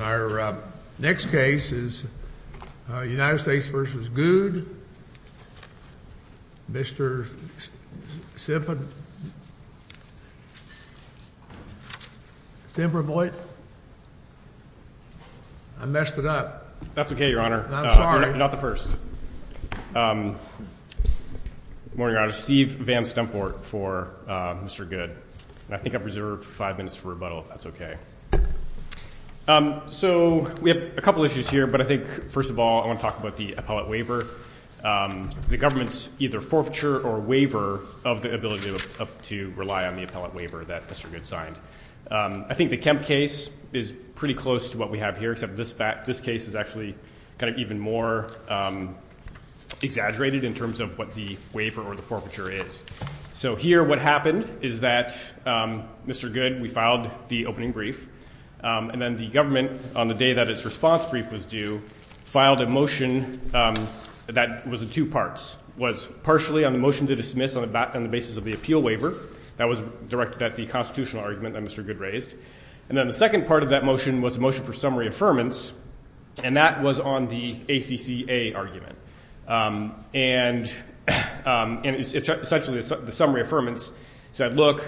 Our next case is United States v. Goode, Mr. Sempervoit. I messed it up. That's okay, your honor. You're not the first. Good morning, your honor. Steve Van Stemport for Mr. Goode. I think I've reserved five minutes for rebuttal, if that's okay. So we have a couple issues here, but I think, first of all, I want to talk about the appellate waiver. The government's either forfeiture or waiver of the ability to rely on the appellate waiver that Mr. Goode signed. I think the Kemp case is pretty close to what we have here, except this case is actually kind of even more exaggerated in terms of what the waiver or the forfeiture is. So here what happened is that Mr. Goode, we filed the opening brief, and then the government, on the day that its response brief was due, filed a motion that was in two parts. It was partially on the motion to dismiss on the basis of the appeal waiver that was directed at the constitutional argument that Mr. Goode raised. And then the second part of that motion was a motion for summary affirmance, and that was on the ACCA argument. And essentially the summary affirmance said, look,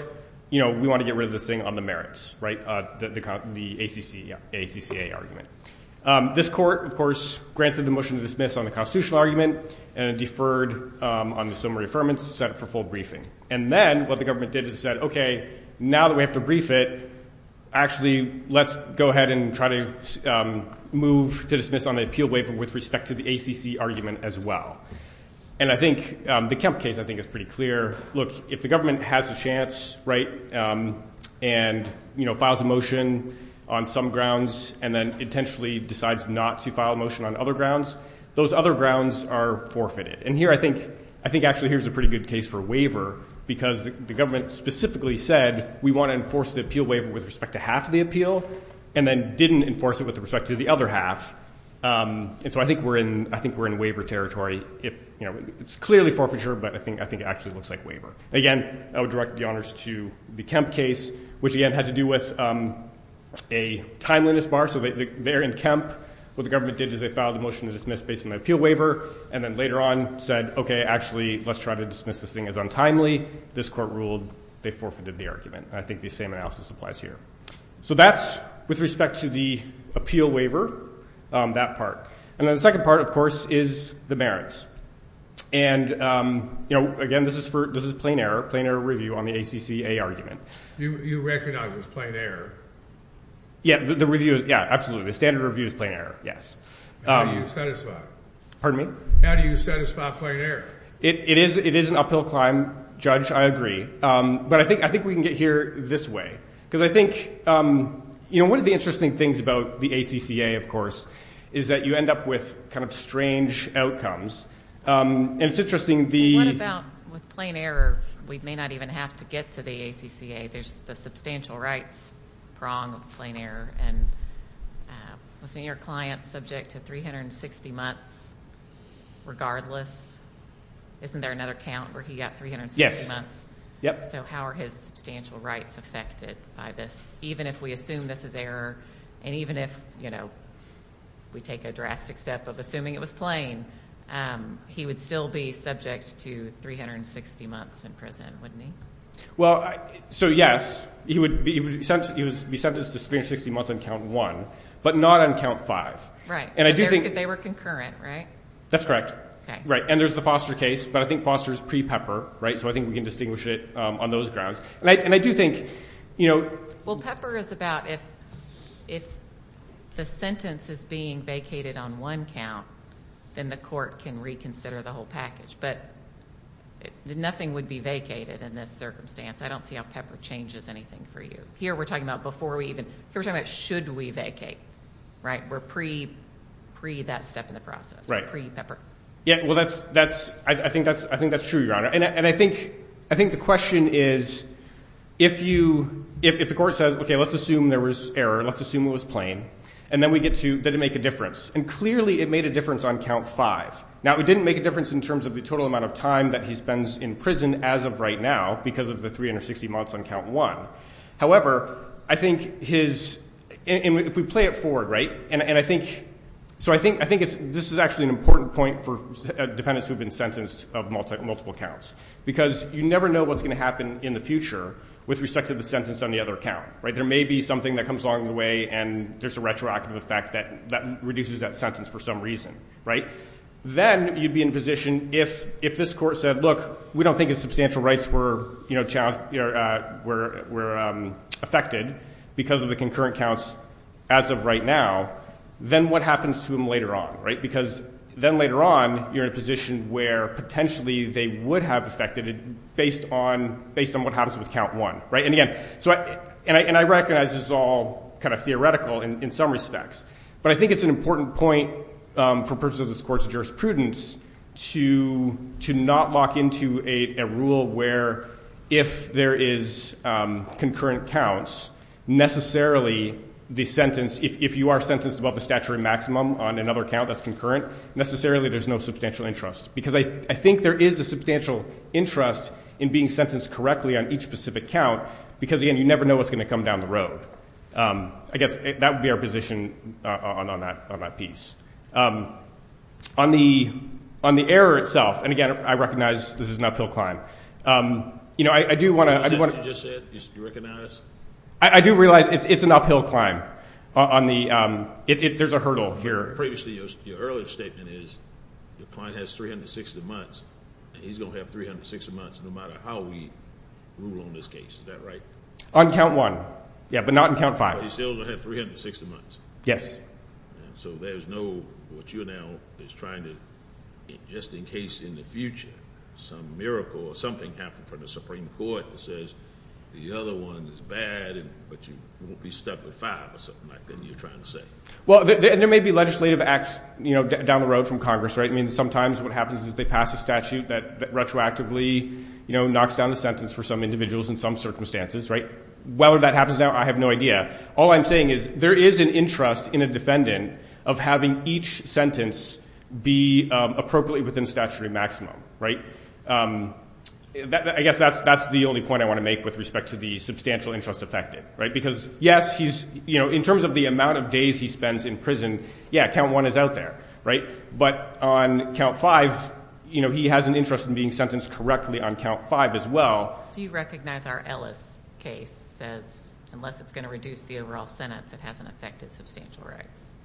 we want to get rid of this thing on the merits, the ACCA argument. This court, of course, granted the motion to dismiss on the constitutional argument and deferred on the summary affirmance, set it for full briefing. And then what the government did is said, okay, now that we have to brief it, actually let's go ahead and try to move to dismiss on the appeal waiver with respect to the ACC argument as well. And I think the Kemp case, I think, is pretty clear. Look, if the government has a chance, right, and files a motion on some grounds and then intentionally decides not to file a motion on other grounds, those other grounds are forfeited. And here I think actually here's a pretty good case for waiver because the government specifically said we want to enforce the appeal waiver with respect to half the appeal and then didn't enforce it with respect to the other half. And so I think we're in waiver territory. It's clearly forfeiture, but I think it actually looks like waiver. Again, I would direct the honors to the Kemp case, which again had to do with a timeliness bar. So they're in Kemp. What the government did is they filed a motion to dismiss based on the appeal waiver and then later on said, okay, actually let's try to dismiss this thing as untimely. This court ruled they forfeited the argument. And I think the same analysis applies here. So that's with respect to the appeal waiver, that part. And then the second part, of course, is the merits. And, again, this is plain error, plain error review on the ACCA argument. You recognize it's plain error? Yeah, absolutely. The standard review is plain error, yes. How do you satisfy? Pardon me? How do you satisfy plain error? It is an uphill climb, Judge. I agree. But I think we can get here this way. Because I think, you know, one of the interesting things about the ACCA, of course, is that you end up with kind of strange outcomes. And it's interesting the ‑‑ What about with plain error we may not even have to get to the ACCA. There's the substantial rights prong of plain error. And wasn't your client subject to 360 months regardless? Isn't there another count where he got 360 months? Yep. So how are his substantial rights affected by this? Even if we assume this is error, and even if, you know, we take a drastic step of assuming it was plain, he would still be subject to 360 months in prison, wouldn't he? Well, so, yes, he would be sentenced to 360 months on count one, but not on count five. Right. They were concurrent, right? That's correct. Okay. Right. And there's the Foster case, but I think Foster is pre-Pepper, right? So I think we can distinguish it on those grounds. And I do think, you know ‑‑ Well, Pepper is about if the sentence is being vacated on one count, then the court can reconsider the whole package. But nothing would be vacated in this circumstance. I don't see how Pepper changes anything for you. Here we're talking about before we even ‑‑ here we're talking about should we vacate, right? We're pre that step in the process. Right. Yeah, well, that's ‑‑ I think that's true, Your Honor. And I think the question is if you ‑‑ if the court says, okay, let's assume there was error, let's assume it was plain, and then we get to did it make a difference. And clearly it made a difference on count five. Now, it didn't make a difference in terms of the total amount of time that he spends in prison as of right now because of the 360 months on count one. However, I think his ‑‑ and if we play it forward, right? And I think ‑‑ so I think this is actually an important point for defendants who have been sentenced of multiple counts because you never know what's going to happen in the future with respect to the sentence on the other count, right? There may be something that comes along the way and there's a retroactive effect that reduces that sentence for some reason, right? Then you'd be in a position if this court said, look, we don't think his substantial rights were, you know, challenged, were affected because of the concurrent counts as of right now, then what happens to them later on, right? Because then later on you're in a position where potentially they would have affected it based on what happens with count one, right? And again, so I ‑‑ and I recognize this is all kind of theoretical in some respects, but I think it's an important point for purposes of this court's jurisprudence to not lock into a rule where if there is concurrent counts, necessarily the sentence, if you are sentenced above the statutory maximum on another count that's concurrent, necessarily there's no substantial interest. Because I think there is a substantial interest in being sentenced correctly on each specific count because, again, you never know what's going to come down the road. I guess that would be our position on that piece. On the error itself, and again, I recognize this is an uphill climb, you know, I do want to ‑‑ Is that what you just said? You recognize? I do realize it's an uphill climb on the ‑‑ there's a hurdle here. Previously your earlier statement is the client has 360 months, and he's going to have 360 months no matter how we rule on this case. Is that right? On count one, yeah, but not on count five. But he's still going to have 360 months. Yes. And so there's no ‑‑ what you're now is trying to, just in case in the future, some miracle or something happened for the Supreme Court that says the other one is bad, but you won't be stuck with five or something like that you're trying to say. Well, there may be legislative acts down the road from Congress, right? I mean, sometimes what happens is they pass a statute that retroactively knocks down the sentence for some individuals in some circumstances, right? Whether that happens now, I have no idea. All I'm saying is there is an interest in a defendant of having each sentence be appropriately within statutory maximum, right? I guess that's the only point I want to make with respect to the substantial interest affected, right? Because, yes, he's ‑‑ you know, in terms of the amount of days he spends in prison, yeah, count one is out there, right? But on count five, you know, he has an interest in being sentenced correctly on count five as well. Do you recognize our Ellis case as unless it's going to reduce the overall sentence, it hasn't affected substantial rights?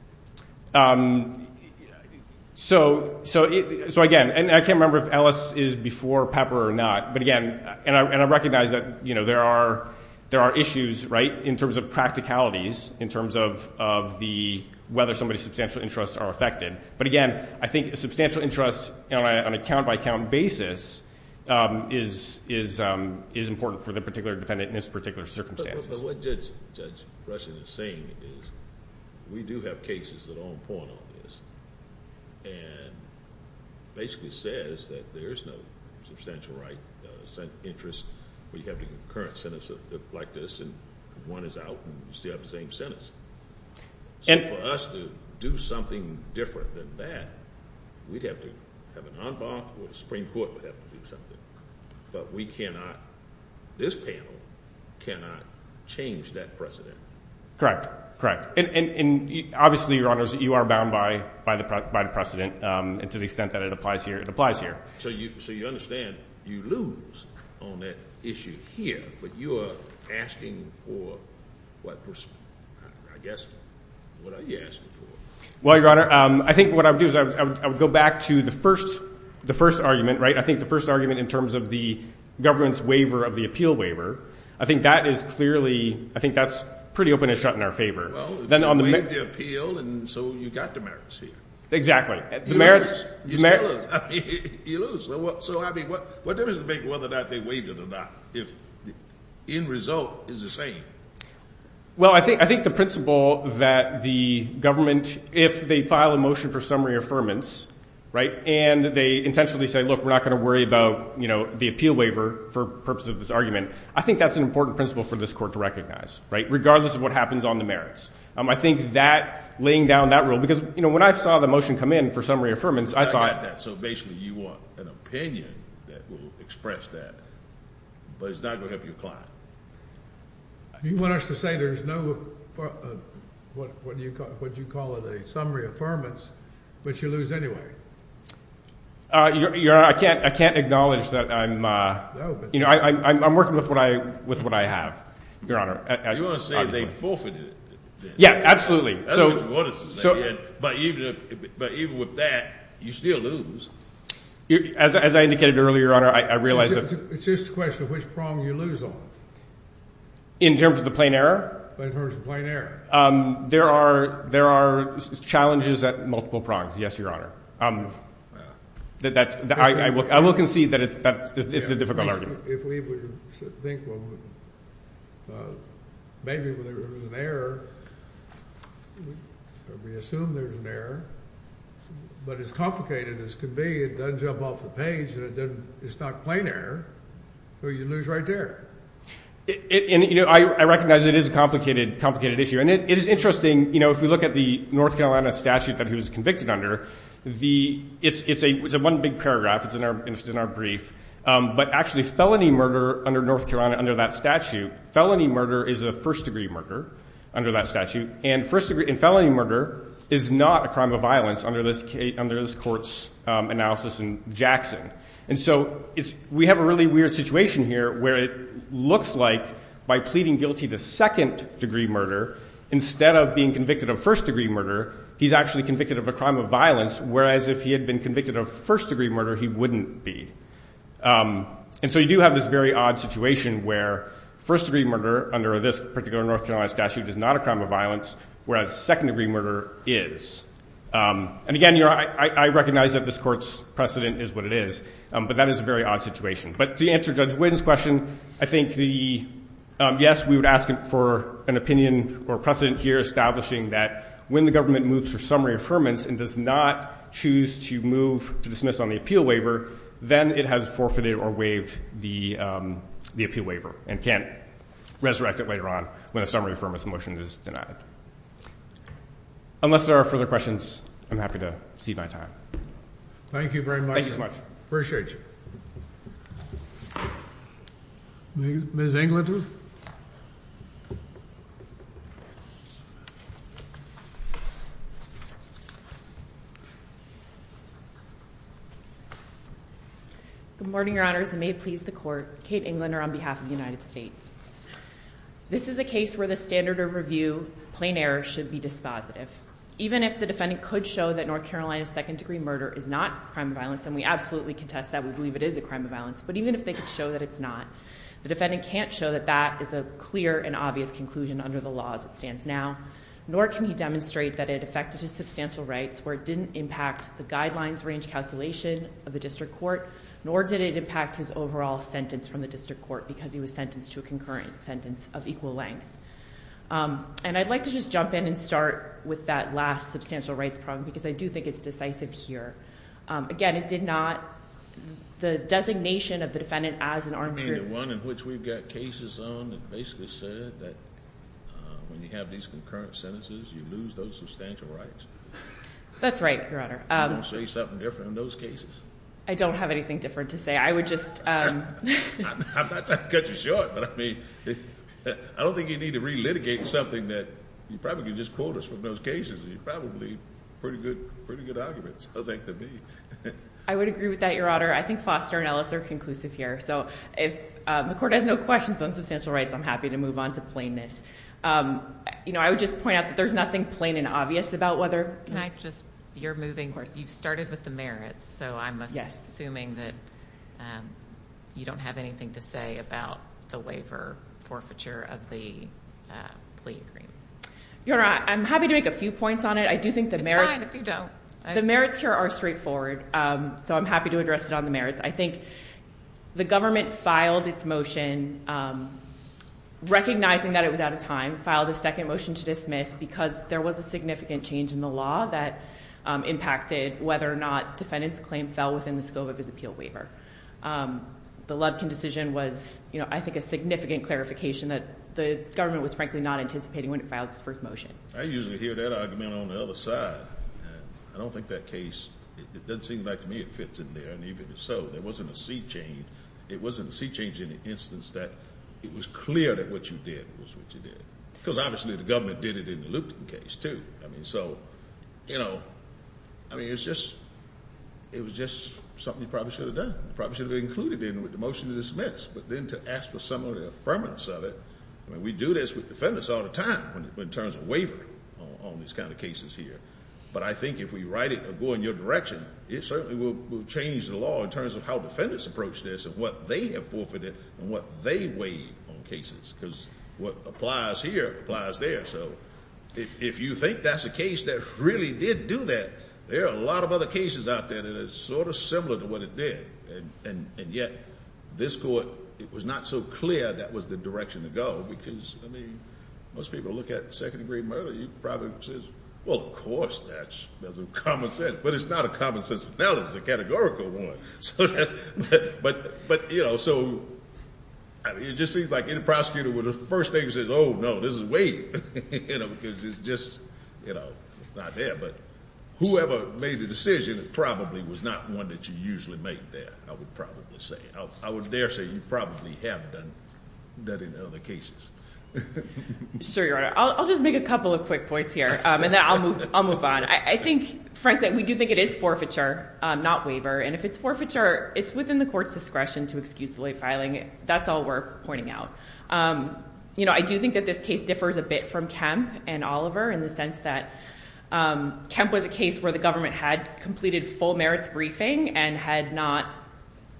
So, again, and I can't remember if Ellis is before Pepper or not. But, again, and I recognize that, you know, there are issues, right, in terms of practicalities, in terms of the ‑‑ whether somebody's substantial interests are affected. But, again, I think a substantial interest on a count‑by‑count basis is important for the particular defendant in this particular circumstance. But what Judge Rushing is saying is we do have cases that are on point on this and basically says that there is no substantial right interest where you have the current sentence like this and one is out and you still have the same sentence. So for us to do something different than that, we'd have to have an en banc or the Supreme Court would have to do something. But we cannot, this panel cannot change that precedent. Correct, correct. And obviously, Your Honors, you are bound by the precedent and to the extent that it applies here, it applies here. So you understand you lose on that issue here, but you are asking for, I guess, what are you asking for? Well, Your Honor, I think what I would do is I would go back to the first argument, right? I think the first argument in terms of the government's waiver of the appeal waiver, I think that is clearly, I think that's pretty open and shut in our favor. Well, they waived the appeal and so you got the merits here. Exactly. You still lose. You lose. So I mean, what difference does it make whether or not they waived it or not if the end result is the same? Well, I think the principle that the government, if they file a motion for summary affirmance, right, and they intentionally say, look, we're not going to worry about the appeal waiver for the purpose of this argument, I think that's an important principle for this Court to recognize, right, regardless of what happens on the merits. I think that laying down that rule, because, you know, when I saw the motion come in for summary affirmance, I thought. So basically you want an opinion that will express that, but it's not going to help your client. You want us to say there's no, what do you call it, a summary affirmance, but you lose anyway. Your Honor, I can't acknowledge that I'm, you know, I'm working with what I have, Your Honor. You want to say they forfeited it? Yeah, absolutely. That's what you want us to say. But even with that, you still lose. As I indicated earlier, Your Honor, I realize that. It's just a question of which prong you lose on. In terms of the plain error? In terms of the plain error. There are challenges at multiple prongs, yes, Your Honor. I will concede that it's a difficult argument. If we would think maybe there was an error, we assume there's an error. But as complicated as it could be, it doesn't jump off the page, and it's not plain error. So you lose right there. And, you know, I recognize it is a complicated issue. And it is interesting, you know, if we look at the North Carolina statute that he was convicted under, it's one big paragraph. It's in our brief. But actually felony murder under North Carolina, under that statute, felony murder is a first-degree murder under that statute. And felony murder is not a crime of violence under this court's analysis in Jackson. And so we have a really weird situation here where it looks like by pleading guilty to second-degree murder, instead of being convicted of first-degree murder, he's actually convicted of a crime of violence, whereas if he had been convicted of first-degree murder, he wouldn't be. And so you do have this very odd situation where first-degree murder under this particular North Carolina statute is not a crime of violence, whereas second-degree murder is. And, again, Your Honor, I recognize that this court's precedent is what it is, but that is a very odd situation. But to answer Judge Whitten's question, I think, yes, we would ask for an opinion or precedent here establishing that when the government moves for summary affirmance and does not choose to move to dismiss on the appeal waiver, then it has forfeited or waived the appeal waiver and can't resurrect it later on when a summary affirmance motion is denied. Unless there are further questions, I'm happy to cede my time. Thank you very much. Appreciate you. Ms. Englander? Good morning, Your Honors, and may it please the Court, Kate Englander on behalf of the United States. This is a case where the standard of review, plain error, should be dispositive. Even if the defendant could show that North Carolina's second-degree murder is not a crime of violence, and we absolutely contest that, we believe it is a crime of violence, but even if they could show that it's not, the defendant can't show that that is a clear and obvious conclusion under the law as it stands now, nor can he demonstrate that it affected his substantial rights where it didn't impact the guidelines range calculation of the district court, nor did it impact his overall sentence from the district court because he was sentenced to a concurrent sentence of equal length. And I'd like to just jump in and start with that last substantial rights problem because I do think it's decisive here. Again, it did not—the designation of the defendant as an armed group— You mean the one in which we've got cases on that basically said that when you have these concurrent sentences, you lose those substantial rights? That's right, Your Honor. You don't say something different in those cases? I don't have anything different to say. I would just— I'm not trying to cut you short, but, I mean, I don't think you need to re-litigate something that— You probably could just quote us from those cases. They're probably pretty good arguments, I think, to me. I would agree with that, Your Honor. I think Foster and Ellis are conclusive here. So if the court has no questions on substantial rights, I'm happy to move on to plainness. You know, I would just point out that there's nothing plain and obvious about whether— Can I just—you're moving—you've started with the merits, so I'm assuming that you don't have anything to say about the waiver forfeiture of the plea agreement. Your Honor, I'm happy to make a few points on it. I do think the merits— It's fine if you don't. The merits here are straightforward, so I'm happy to address it on the merits. I think the government filed its motion, recognizing that it was out of time, filed a second motion to dismiss because there was a significant change in the law that impacted whether or not defendant's claim fell within the scope of his appeal waiver. The Lubkin decision was, you know, I think a significant clarification that the government was frankly not anticipating when it filed its first motion. I usually hear that argument on the other side. I don't think that case—it doesn't seem like to me it fits in there. And even if so, there wasn't a seat change. It wasn't a seat change in the instance that it was clear that what you did was what you did. Because obviously the government did it in the Lupton case, too. I mean, so, you know, I mean, it was just something you probably should have done. You probably should have included it in with the motion to dismiss. But then to ask for some of the affirmance of it— I mean, we do this with defendants all the time in terms of wavering on these kind of cases here. But I think if we write it or go in your direction, it certainly will change the law in terms of how defendants approach this and what they have forfeited and what they waive on cases because what applies here applies there. So if you think that's a case that really did do that, there are a lot of other cases out there that are sort of similar to what it did. And yet this court, it was not so clear that was the direction to go because, I mean, most people look at second-degree murder. You probably say, well, of course that's common sense. But it's not a common sense. Now it's a categorical one. But, you know, so it just seems like any prosecutor, when the first thing he says, oh, no, this is waiving, you know, because it's just, you know, not there. But whoever made the decision probably was not one that you usually make there, I would probably say. I would dare say you probably have done that in other cases. Sure, Your Honor. I'll just make a couple of quick points here, and then I'll move on. I think, frankly, we do think it is forfeiture, not waiver. And if it's forfeiture, it's within the court's discretion to excuse the late filing. That's all we're pointing out. You know, I do think that this case differs a bit from Kemp and Oliver in the sense that Kemp was a case where the government had completed full merits briefing and had not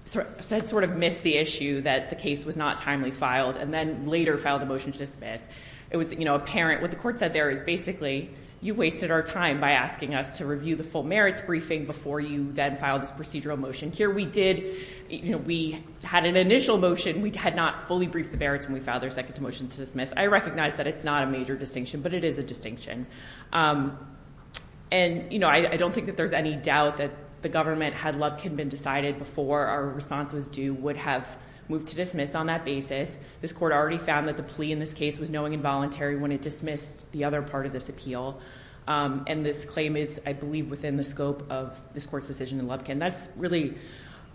sort of missed the issue that the case was not timely filed and then later filed a motion to dismiss. It was, you know, apparent. What the court said there is basically you wasted our time by asking us to review the full merits briefing before you then filed this procedural motion. Here we did, you know, we had an initial motion. We had not fully briefed the merits when we filed their second motion to dismiss. I recognize that it's not a major distinction, but it is a distinction. And, you know, I don't think that there's any doubt that the government, had Lubkin been decided before our response was due, would have moved to dismiss on that basis. This court already found that the plea in this case was knowing and voluntary when it dismissed the other part of this appeal. And this claim is, I believe, within the scope of this court's decision in Lubkin. That's really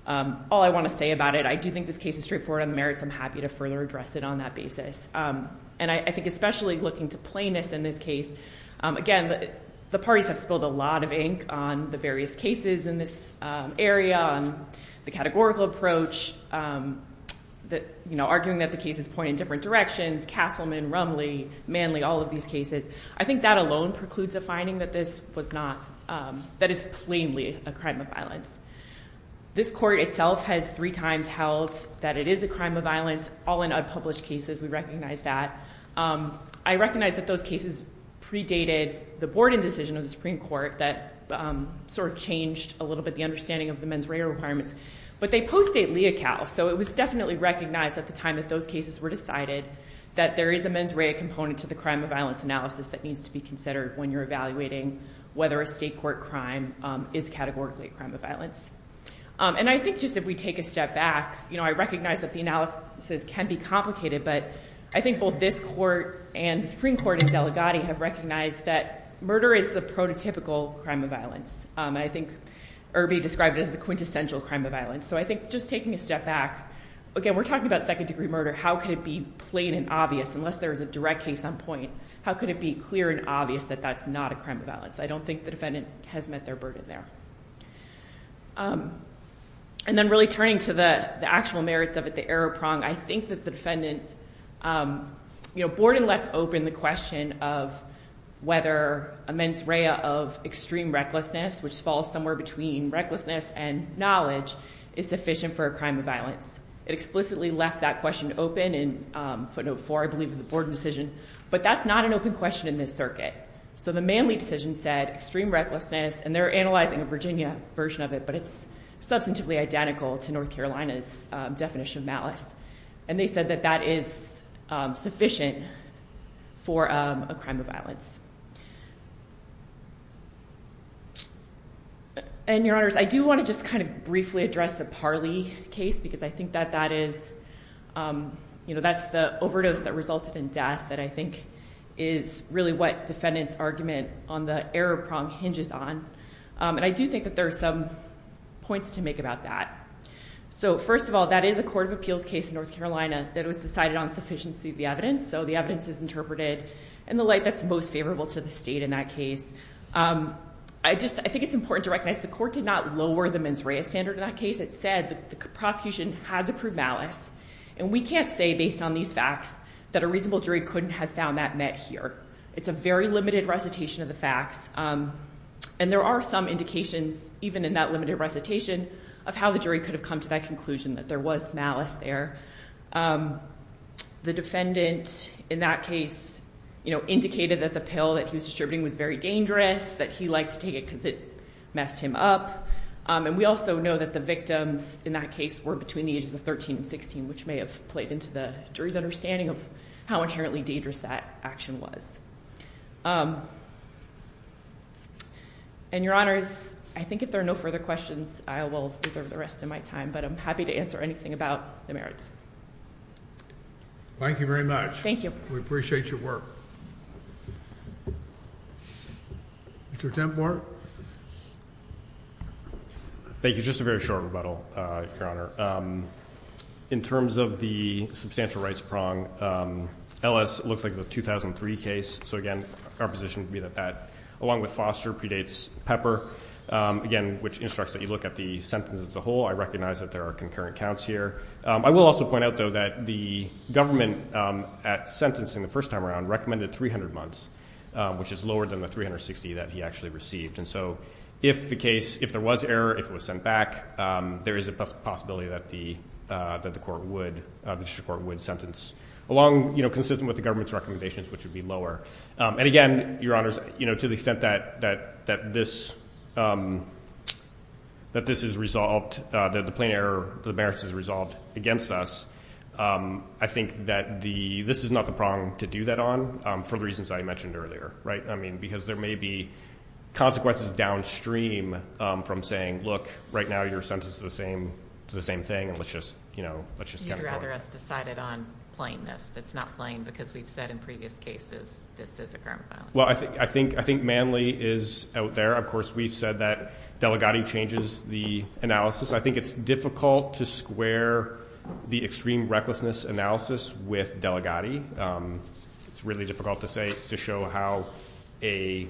all I want to say about it. I do think this case is straightforward on the merits. I'm happy to further address it on that basis. And I think especially looking to plainness in this case, again, the parties have spilled a lot of ink on the various cases in this area, on the categorical approach, you know, arguing that the cases point in different directions, Castleman, Rumley, Manley, all of these cases. I think that alone precludes a finding that this was not, that it's plainly a crime of violence. This court itself has three times held that it is a crime of violence, all in unpublished cases. We recognize that. I recognize that those cases predated the Borden decision of the Supreme Court that sort of changed a little bit the understanding of the mens rea requirements. But they post-date Leocal. So it was definitely recognized at the time that those cases were decided that there is a mens rea component to the crime of violence analysis that needs to be considered when you're evaluating whether a state court crime is categorically a crime of violence. And I think just if we take a step back, you know, I recognize that the analysis can be complicated, but I think both this court and the Supreme Court and Delegati have recognized that murder is the prototypical crime of violence. I think Irby described it as the quintessential crime of violence. So I think just taking a step back, again, we're talking about second-degree murder. How could it be plain and obvious unless there is a direct case on point? How could it be clear and obvious that that's not a crime of violence? I don't think the defendant has met their burden there. And then really turning to the actual merits of it, the error prong, I think that the defendant, you know, Borden left open the question of whether a mens rea of extreme recklessness, which falls somewhere between recklessness and knowledge, is sufficient for a crime of violence. It explicitly left that question open in footnote 4, I believe, in the Borden decision. But that's not an open question in this circuit. So the Manley decision said extreme recklessness, and they're analyzing a Virginia version of it, but it's substantively identical to North Carolina's definition of malice. And they said that that is sufficient for a crime of violence. And, Your Honors, I do want to just kind of briefly address the Parley case because I think that that is, you know, that's the overdose that resulted in death that I think is really what defendant's argument on the error prong hinges on. And I do think that there are some points to make about that. So, first of all, that is a court of appeals case in North Carolina that was decided on sufficiency of the evidence, so the evidence is interpreted in the light that's most favorable to the state in that case. I think it's important to recognize the court did not lower the mens rea standard in that case. It said the prosecution had to prove malice. And we can't say based on these facts that a reasonable jury couldn't have found that met here. It's a very limited recitation of the facts, and there are some indications, even in that limited recitation, of how the jury could have come to that conclusion that there was malice there. The defendant in that case, you know, indicated that the pill that he was distributing was very dangerous, that he liked to take it because it messed him up. And we also know that the victims in that case were between the ages of 13 and 16, which may have played into the jury's understanding of how inherently dangerous that action was. And, Your Honors, I think if there are no further questions, I will reserve the rest of my time, but I'm happy to answer anything about the merits. Thank you very much. Thank you. We appreciate your work. Mr. Templer? Thank you. Just a very short rebuttal, Your Honor. In terms of the substantial rights prong, LS looks like it's a 2003 case. So, again, our position would be that that, along with Foster, predates Pepper, again, which instructs that you look at the sentence as a whole. I recognize that there are concurrent counts here. I will also point out, though, that the government at sentencing the first time around recommended 300 months, which is lower than the 360 that he actually received. And so if the case, if there was error, if it was sent back, there is a possibility that the court would sentence, along, you know, consistent with the government's recommendations, which would be lower. And, again, Your Honors, you know, to the extent that this is resolved, that the plain error, the merits is resolved against us, I think that this is not the prong to do that on, for the reasons I mentioned earlier, right? I mean, because there may be consequences downstream from saying, look, right now your sentence is the same, it's the same thing, and let's just, you know, let's just kind of go with it. You'd rather us decide it on plainness that's not plain, because we've said in previous cases this is a crime of violence. Well, I think Manley is out there. Of course, we've said that Delegati changes the analysis. I think it's difficult to square the extreme recklessness analysis with Delegati. It's really difficult to say, to show how an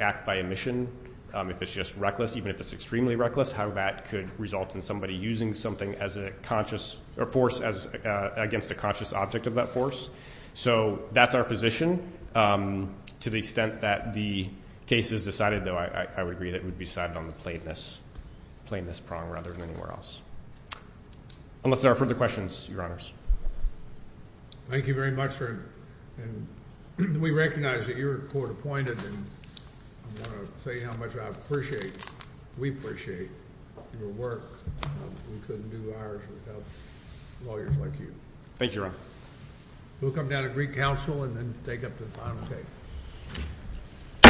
act by omission, if it's just reckless, even if it's extremely reckless, how that could result in somebody using something as a conscious force against a conscious object of that force. So that's our position. To the extent that the case is decided, though, I would agree that it would be decided on the plainness prong rather than anywhere else. Unless there are further questions, Your Honors. Thank you very much, sir. And we recognize that you're court appointed, and I want to tell you how much I appreciate, we appreciate your work. We couldn't do ours without lawyers like you. Thank you, Your Honor. We'll come down to Greek Council and then take up the final case.